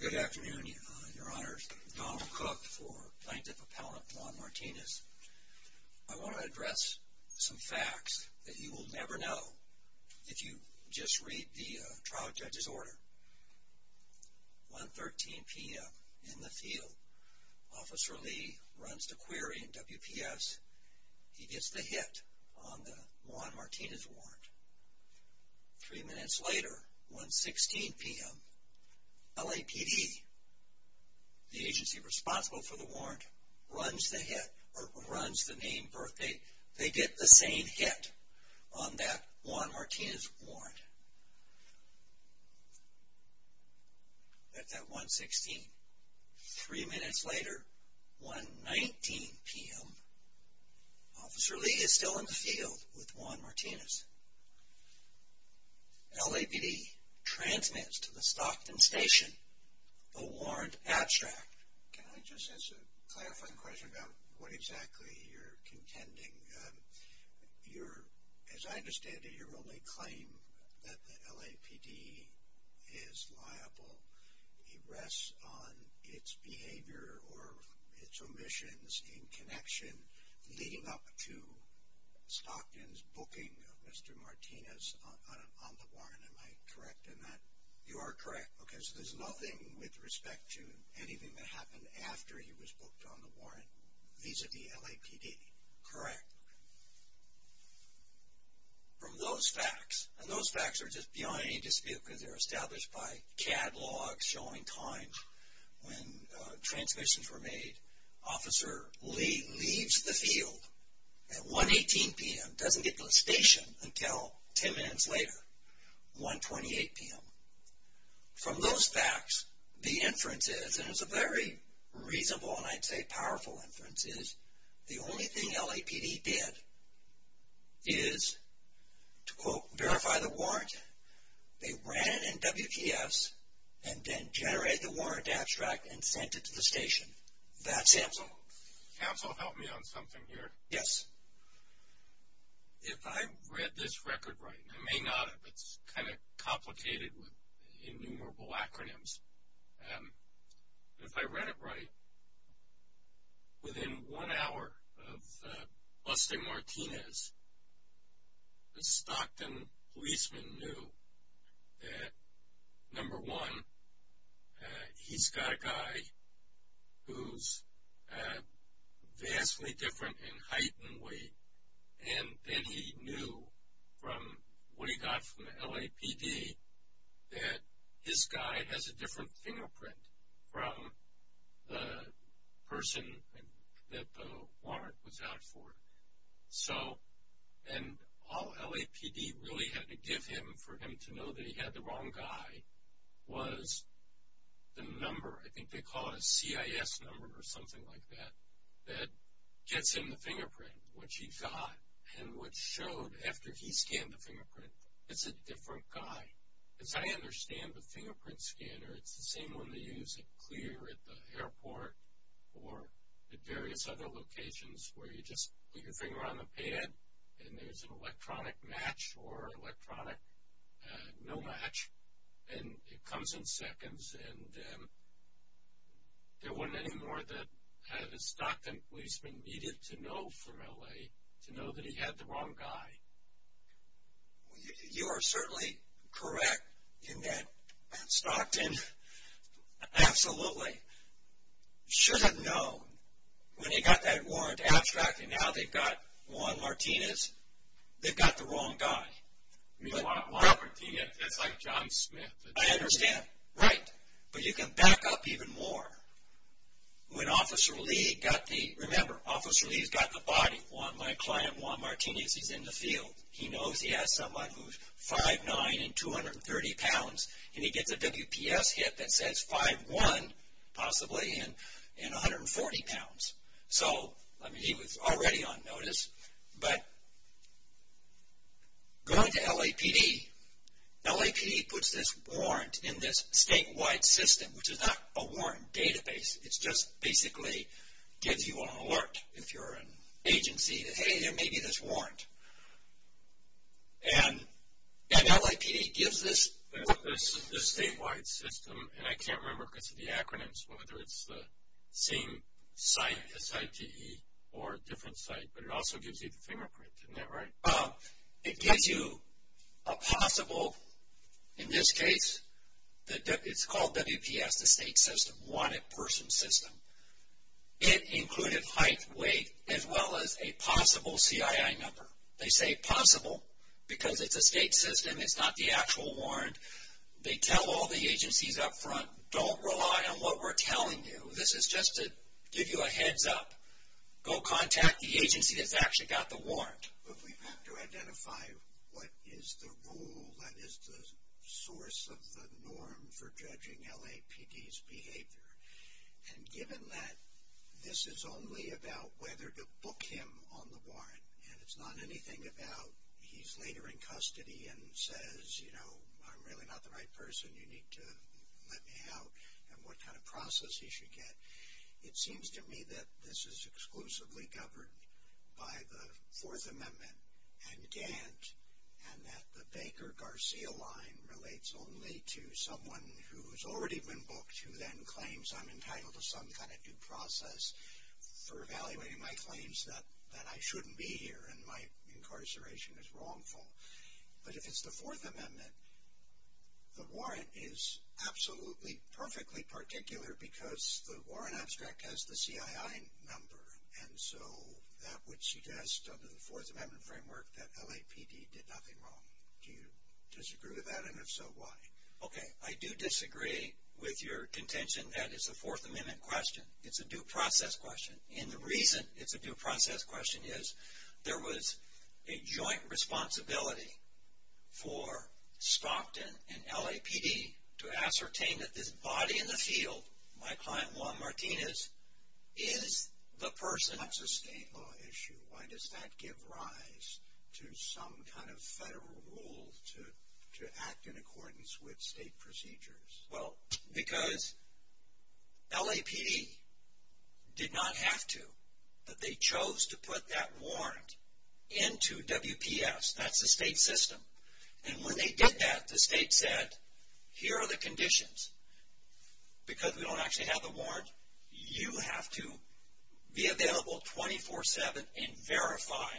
Good afternoon, Your Honors. Donald Cook for Plaintiff Appellant Juan Martinez. I want to address some facts that you will never know if you just read the trial judge's order. 113 p.m. in the field, Officer Lee runs the query in WPS. He gets the hit on 116 p.m. LAPD, the agency responsible for the warrant, runs the hit or runs the name, birthdate. They get the same hit on that Juan Martinez warrant. At that 116, three minutes later, 119 p.m., Officer Lee is still in the field with Juan Martinez. LAPD transmits to the Stockton station the warrant abstract. Can I just ask a clarifying question about what exactly you're contending? As I understand it, your only claim that the LAPD is liable rests on its behavior or its omissions in connection leading up to Stockton's booking of Mr. Martinez on the warrant. Am I correct in that? You are correct. Okay, so there's nothing with respect to anything that happened after he was booked on the warrant vis-a-vis LAPD. Correct. From those facts, and those facts are just beyond any dispute because they're established by catalogs showing times when transmissions were made, Officer Lee leaves the field at 118 p.m., doesn't get to the station until 10 minutes later, 128 p.m. From those facts, the inference is, and it's a very reasonable and I'd say powerful inference, is the only thing LAPD did is to, quote, verify the warrant. They ran it in WPFs and then generated the warrant abstract and sent it to the station. That's SAMSO. SAMSO helped me on something here. Yes. If I read this record right, and I may not if it's kind of complicated with innumerable acronyms, if I read it right, within one hour of busting Martinez, the Stockton policeman knew that, number one, he's got a guy who's vastly different in height and weight. And then he knew from what he got from the LAPD that his guy has a different fingerprint from the person that the warrant was out for. So, and all LAPD really had to give him for him to know that he had the wrong guy was the number, I think they call it a CIS number or something like that, that gets him the fingerprint, which he got, and which showed after he scanned the fingerprint, it's a different guy. As I understand the fingerprint scanner, it's the same one they use at Clear, at the airport, or at various other locations where you just put your finger on the pad and there's an electronic match or electronic no match, and it comes in seconds, and there wasn't any more that a Stockton policeman needed to know from L.A. to know that he had the wrong guy. You are certainly correct in that Stockton absolutely should have known when he got that warrant abstracted and now they've got Juan Martinez, they've got the wrong guy. I understand, right, but you can back up even more when Officer Lee got the, remember Officer Lee's got the body, my client Juan Martinez, he's in the field, he knows he has someone who's 5'9 and 230 pounds and he gets a WPS hit that says 5'1 possibly and 140 pounds. So, I mean he was already on notice, but going to LAPD, LAPD puts this warrant in this statewide system, which is not a warrant database, it's just basically gives you an alert if you're an agency, hey there may be this warrant, and LAPD gives this. This statewide system, and I can't remember because of the acronyms, whether it's the same site, SITE, or a different site, but it also gives you the fingerprint, isn't that right? It gives you a possible, in this case, it's called WPS, the state system, wanted person system. It included height, weight, as well as a possible CII number. They say possible because it's a state system, it's not the actual warrant, they tell all the agencies up front, don't rely on what we're telling you, this is just to give you a heads up, go contact the agency that's actually got the warrant. But we have to identify what is the rule that is the source of the norm for judging LAPD's behavior, and given that this is only about whether to book him on the warrant, and it's not anything about he's later in custody and says, you know, I'm really not the right person, you need to let me out, and what kind of process he should get. It seems to me that this is exclusively governed by the Fourth Amendment and Gant, and that the Baker-Garcia line relates only to someone who's already been booked, who then claims I'm entitled to some kind of due process for evaluating my claims that I shouldn't be here and my incarceration is wrongful. But if it's the Fourth Amendment, the warrant is absolutely perfectly particular because the warrant abstract has the CII number, and so that would suggest under the Fourth Amendment framework that LAPD did nothing wrong. Do you disagree with that, and if so, why? Okay, I do disagree with your contention that it's a Fourth Amendment question. It's a due process question, and the reason it's a due process question is there was a joint responsibility for Stockton and LAPD to ascertain that this body in the field, my client Juan Martinez, is the person. That's a state law issue. Why does that give rise to some kind of federal rule to act in accordance with state procedures? Well, because LAPD did not have to, but they chose to put that warrant into WPS. That's the state system. And when they did that, the state said, here are the conditions. Because we don't actually have the warrant, you have to be available 24-7 and verify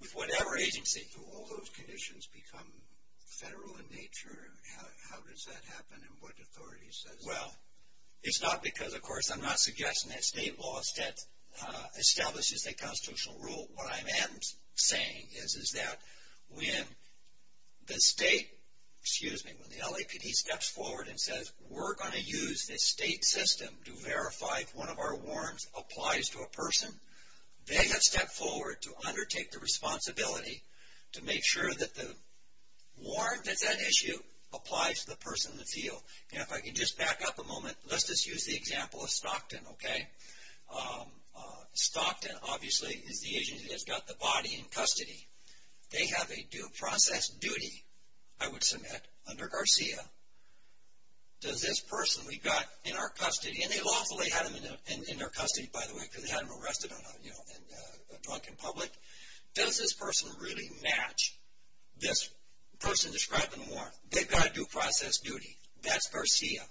with whatever agency. So all those conditions become federal in nature. How does that happen, and what authority says? It's not because, of course, I'm not suggesting that state law establishes a constitutional rule. What I am saying is that when the state, excuse me, when the LAPD steps forward and says, we're going to use the state system to verify if one of our warrants applies to a person, they have stepped forward to undertake the responsibility to make sure that the warrant that's at issue applies to the person in the field. If I could just back up a moment, let's just use the example of Stockton, okay? Stockton, obviously, is the agency that's got the body in custody. They have a due process duty, I would submit, under Garcia. Does this person we've got in our custody, and they lawfully had him in their custody, by the way, because they had him arrested in a drunken public. Does this person really match this person described in the warrant? They've got a due process duty. That's Garcia.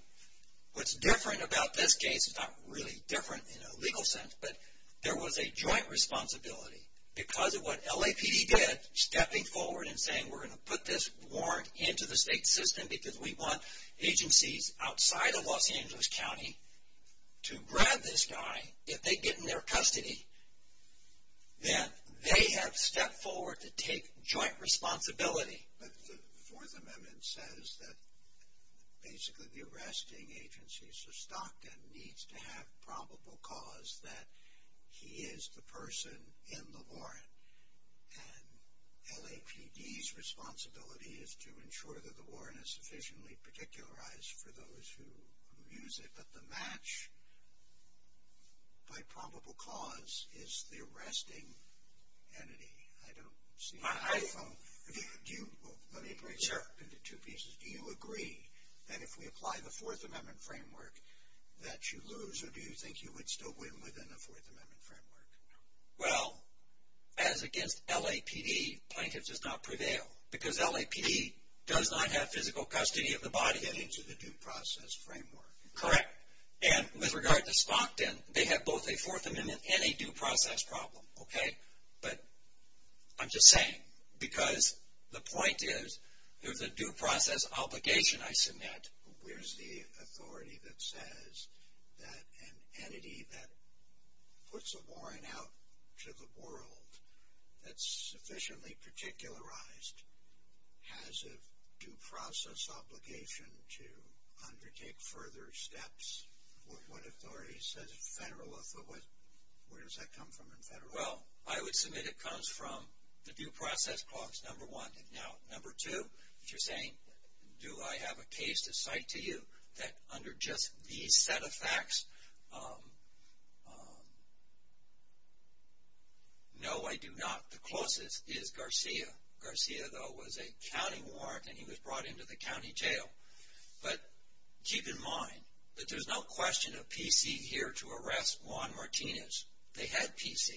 What's different about this case is not really different in a legal sense, but there was a joint responsibility because of what LAPD did, stepping forward and saying, we're going to put this warrant into the state system because we want agencies outside of Los Angeles County to grab this guy if they get in their custody. Then they have stepped forward to take joint responsibility. The Fourth Amendment says that basically the arresting agencies of Stockton needs to have probable cause that he is the person in the warrant. LAPD's responsibility is to ensure that the warrant is sufficiently particularized for those who use it, but the match by probable cause is the arresting entity. Let me break this up into two pieces. Do you agree that if we apply the Fourth Amendment framework that you lose, or do you think you would still win within the Fourth Amendment framework? Well, as against LAPD, plaintiff does not prevail because LAPD does not have physical custody of the body. Correct. And with regard to Stockton, they have both a Fourth Amendment and a due process problem, okay? But I'm just saying, because the point is, there's a due process obligation I submit. Where's the authority that says that an entity that puts a warrant out to the world that's sufficiently particularized has a due process obligation to undertake further steps? What authority says federal authority? Where does that come from in federal law? Well, I would submit it comes from the due process clause, number one. Now, number two, if you're saying, do I have a case to cite to you that under just these set of facts, no, I do not. The closest is Garcia. Garcia, though, was a county warrant, and he was brought into the county jail. But keep in mind that there's no question of PC here to arrest Juan Martinez. They had PC.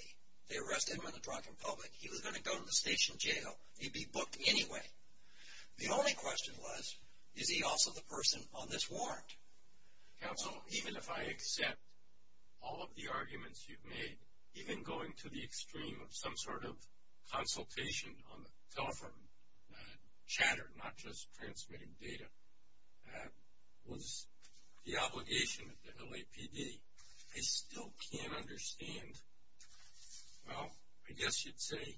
They arrested him in the drunken public. He was going to go to the station jail. He'd be booked anyway. The only question was, is he also the person on this warrant? Counsel, even if I accept all of the arguments you've made, even going to the extreme of some sort of consultation on the telephone chatter, not just transmitting data, that was the obligation of the LAPD. I still can't understand, well, I guess you'd say,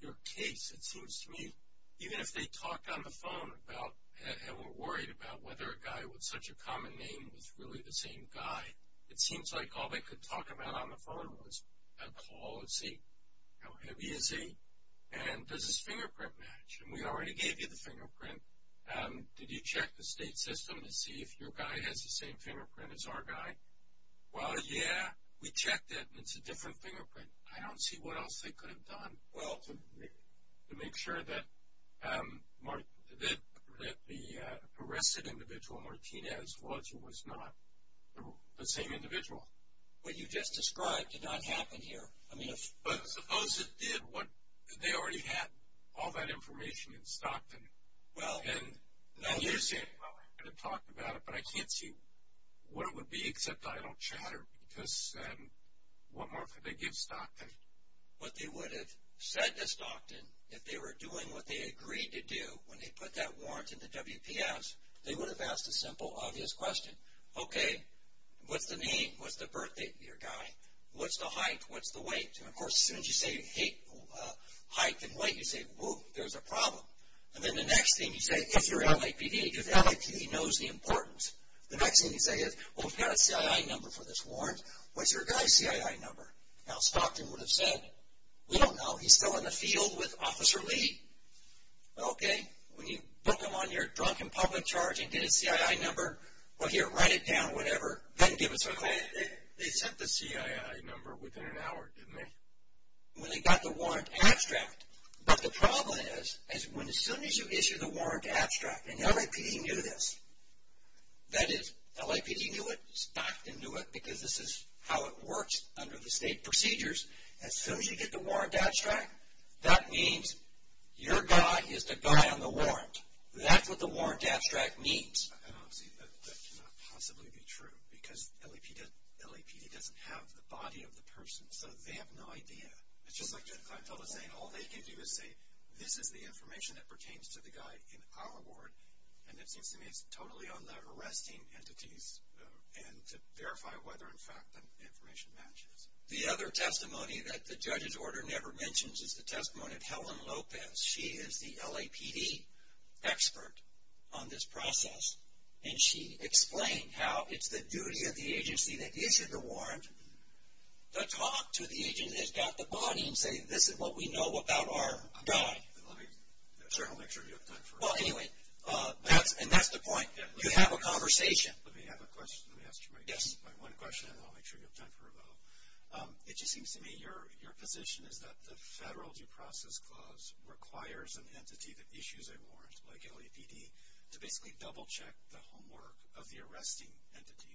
your case. It seems to me, even if they talked on the phone and were worried about whether a guy with such a common name was really the same guy, it seems like all they could talk about on the phone was a call, a seat, how heavy is he, and does his fingerprint match? And we already gave you the fingerprint. Did you check the state system to see if your guy has the same fingerprint as our guy? Well, yeah, we checked it, and it's a different fingerprint. I don't see what else they could have done. Well. To make sure that the arrested individual, Martinez, was or was not the same individual. What you just described did not happen here. But suppose it did. They already had all that information in Stockton. Well. And you're saying, well, I'm going to talk about it, but I can't see what it would be, except I don't chatter, because what more could they give Stockton? What they would have said to Stockton, if they were doing what they agreed to do, when they put that warrant in the WPS, they would have asked a simple, obvious question. Okay, what's the name? What's the birthdate of your guy? What's the height? What's the weight? And, of course, as soon as you say height and weight, you say, whoa, there's a problem. And then the next thing you say, if you're LAPD, because LAPD knows the importance. The next thing you say is, well, we've got a CII number for this warrant. What's your guy's CII number? Now, Stockton would have said, we don't know. He's still in the field with Officer Lee. Okay, when you book him on your drunken public charge and get his CII number, well, here, write it down, whatever, then give us a call. They sent the CII number within an hour, didn't they? When they got the warrant abstract. But the problem is, as soon as you issue the warrant abstract, and LAPD knew this, that is, LAPD knew it, Stockton knew it, because this is how it works under the state procedures. As soon as you get the warrant abstract, that means your guy is the guy on the warrant. That's what the warrant abstract means. And, obviously, that cannot possibly be true, because LAPD doesn't have the body of the person. So they have no idea. It's just like that clientele is saying, all they can do is say, this is the information that pertains to the guy in our ward. And it seems to me it's totally on the arresting entities and to verify whether, in fact, the information matches. The other testimony that the judge's order never mentions is the testimony of Helen Lopez. She is the LAPD expert on this process, and she explained how it's the duty of the agency that issued the warrant to talk to the agency that's got the body and say, this is what we know about our guy. I'll make sure you have time for a vote. Well, anyway, and that's the point. You have a conversation. Let me have a question. Let me ask you my one question, and I'll make sure you have time for a vote. It just seems to me your position is that the federal due process clause requires an entity that issues a warrant, like LAPD, to basically double-check the homework of the arresting entity,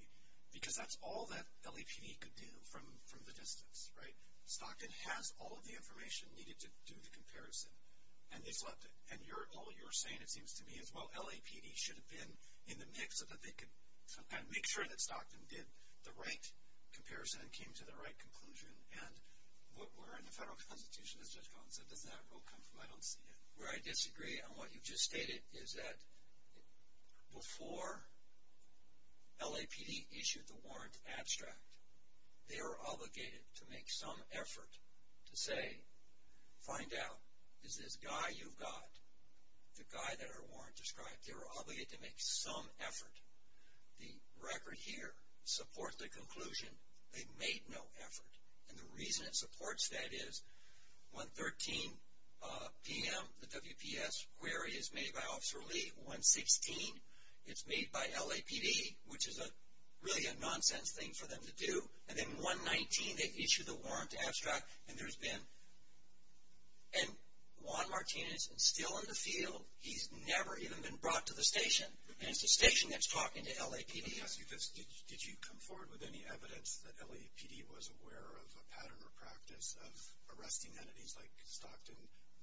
because that's all that LAPD could do from the distance, right? Stockton has all of the information needed to do the comparison, and all you're saying, it seems to me, is, well, LAPD should have been in the mix so that they could make sure that Stockton did the right comparison and came to the right conclusion. And what we're in the federal constitution, as Judge Collins said, doesn't that rule come from? I don't see it. Where I disagree on what you just stated is that before LAPD issued the warrant abstract, they were obligated to make some effort to say, find out, is this guy you've got, the guy that our warrant described, they were obligated to make some effort. The record here supports the conclusion they made no effort, and the reason it supports that is, 113 p.m. the WPS query is made by Officer Lee. 116, it's made by LAPD, which is really a nonsense thing for them to do. And then 119, they issue the warrant abstract, and there's been, and Juan Martinez is still in the field. He's never even been brought to the station, and it's the station that's talking to LAPD. Let me ask you this. Did you come forward with any evidence that LAPD was aware of a pattern or practice of arresting entities like Stockton,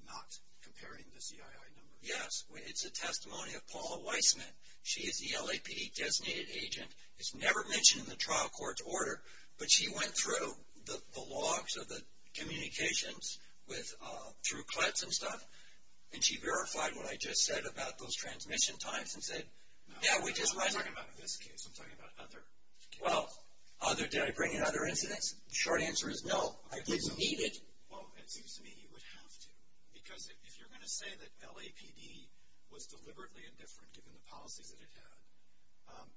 not comparing the CII numbers? Yes, it's a testimony of Paula Weissman. She is the LAPD-designated agent. It's never mentioned in the trial court's order, but she went through the logs of the communications through Kletz and stuff, and she verified what I just said about those transmission times and said, yeah, we just went. I'm not talking about this case. I'm talking about other cases. Well, did I bring in other incidents? The short answer is no, I didn't need it. Well, it seems to me you would have to, because if you're going to say that LAPD was deliberately indifferent, given the policies that it had,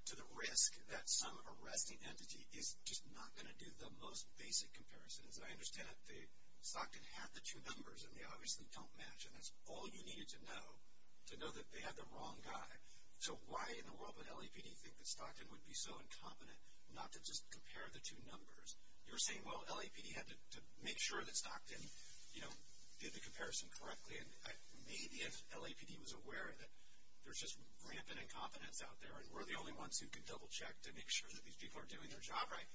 to the risk that some arresting entity is just not going to do the most basic comparisons. I understand that Stockton had the two numbers, and they obviously don't match, and that's all you needed to know, to know that they had the wrong guy. So why in the world would LAPD think that Stockton would be so incompetent not to just compare the two numbers? You were saying, well, LAPD had to make sure that Stockton, you know, did the comparison correctly, and maybe if LAPD was aware that there's just rampant incompetence out there and we're the only ones who can double-check to make sure that these people are doing their job right,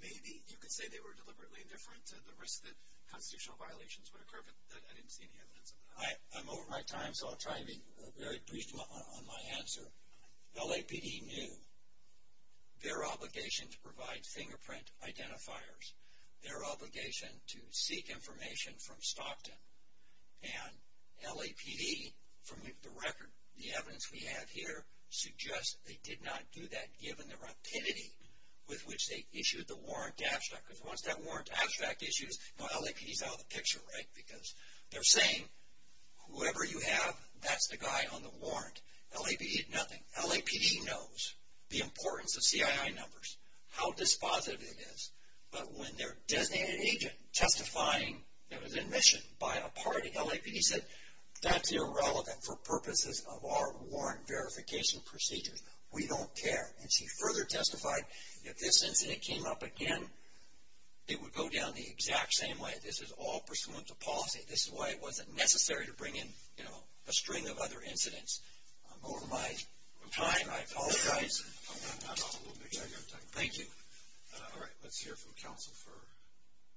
maybe you could say they were deliberately indifferent to the risk that constitutional violations would occur, but I didn't see any evidence of that. I'm over my time, so I'll try to be very brief on my answer. LAPD knew their obligation to provide fingerprint identifiers, their obligation to seek information from Stockton, and LAPD, from the record, the evidence we have here, suggests they did not do that, given the rapidity with which they issued the warrant abstract, because once that warrant abstract issues, you know, LAPD's out of the picture, right? Because they're saying, whoever you have, that's the guy on the warrant. LAPD did nothing. LAPD knows the importance of CII numbers, how dispositive it is, but when their designated agent testifying that was admission by a party, LAPD said, that's irrelevant for purposes of our warrant verification procedure. We don't care, and she further testified, if this incident came up again, it would go down the exact same way. This is all pursuant to policy. This is why it wasn't necessary to bring in, you know, a string of other incidents. I'm over my time. I apologize. Thank you. All right. Let's hear from counsel for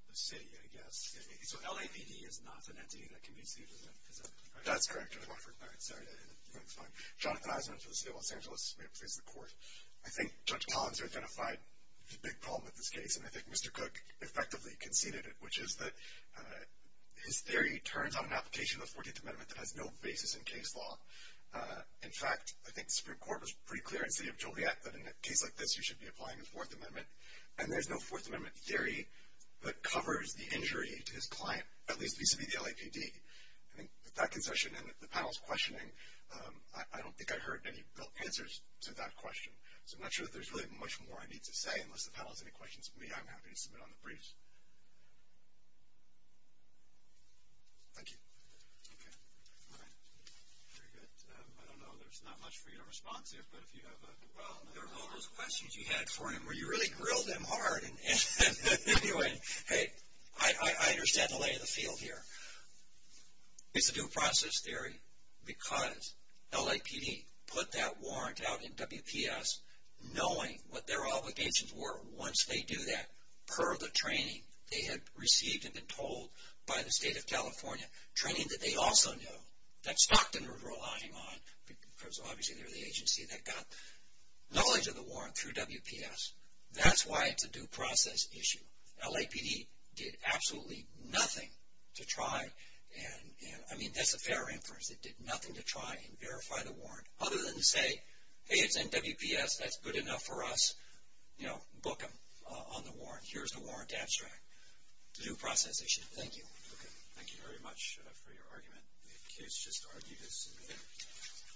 the city, I guess. So LAPD is not an entity that can be sued, is that correct? That's correct, Judge Wofford. All right. Sorry. Jonathan Eisenman from the City of Los Angeles may please report. I think Judge Collins identified the big problem with this case, and I think Mr. Cook effectively conceded it, which is that his theory turns on an application of the 14th Amendment that has no basis in case law. In fact, I think the Supreme Court was pretty clear in the City of Joliet that in a case like this, you should be applying the 4th Amendment, and there's no 4th Amendment theory that covers the injury to his client, at least vis-à-vis the LAPD. I think with that concession and the panel's questioning, I don't think I heard any built answers to that question, so I'm not sure that there's really much more I need to say. Unless the panel has any questions for me, I'm happy to submit on the briefs. Thank you. Okay. All right. Very good. I don't know, there's not much for you to respond to, but if you have a... Well, there are all those questions you had for him where you really grilled him hard. Anyway, hey, I understand the lay of the field here. It's a due process theory because LAPD put that warrant out in WPS knowing what their obligations were once they do that, per the training they had received and been told by the State of California, training that they also know, that Stockton was relying on, because obviously they're the agency that got knowledge of the warrant through WPS. That's why it's a due process issue. LAPD did absolutely nothing to try and... I mean, that's a fair inference. It did nothing to try and verify the warrant, other than to say, hey, it's in WPS, that's good enough for us, book them on the warrant. Here's the warrant abstract. Due process issue. Thank you. Okay. Thank you very much for your argument. The kids just argued this.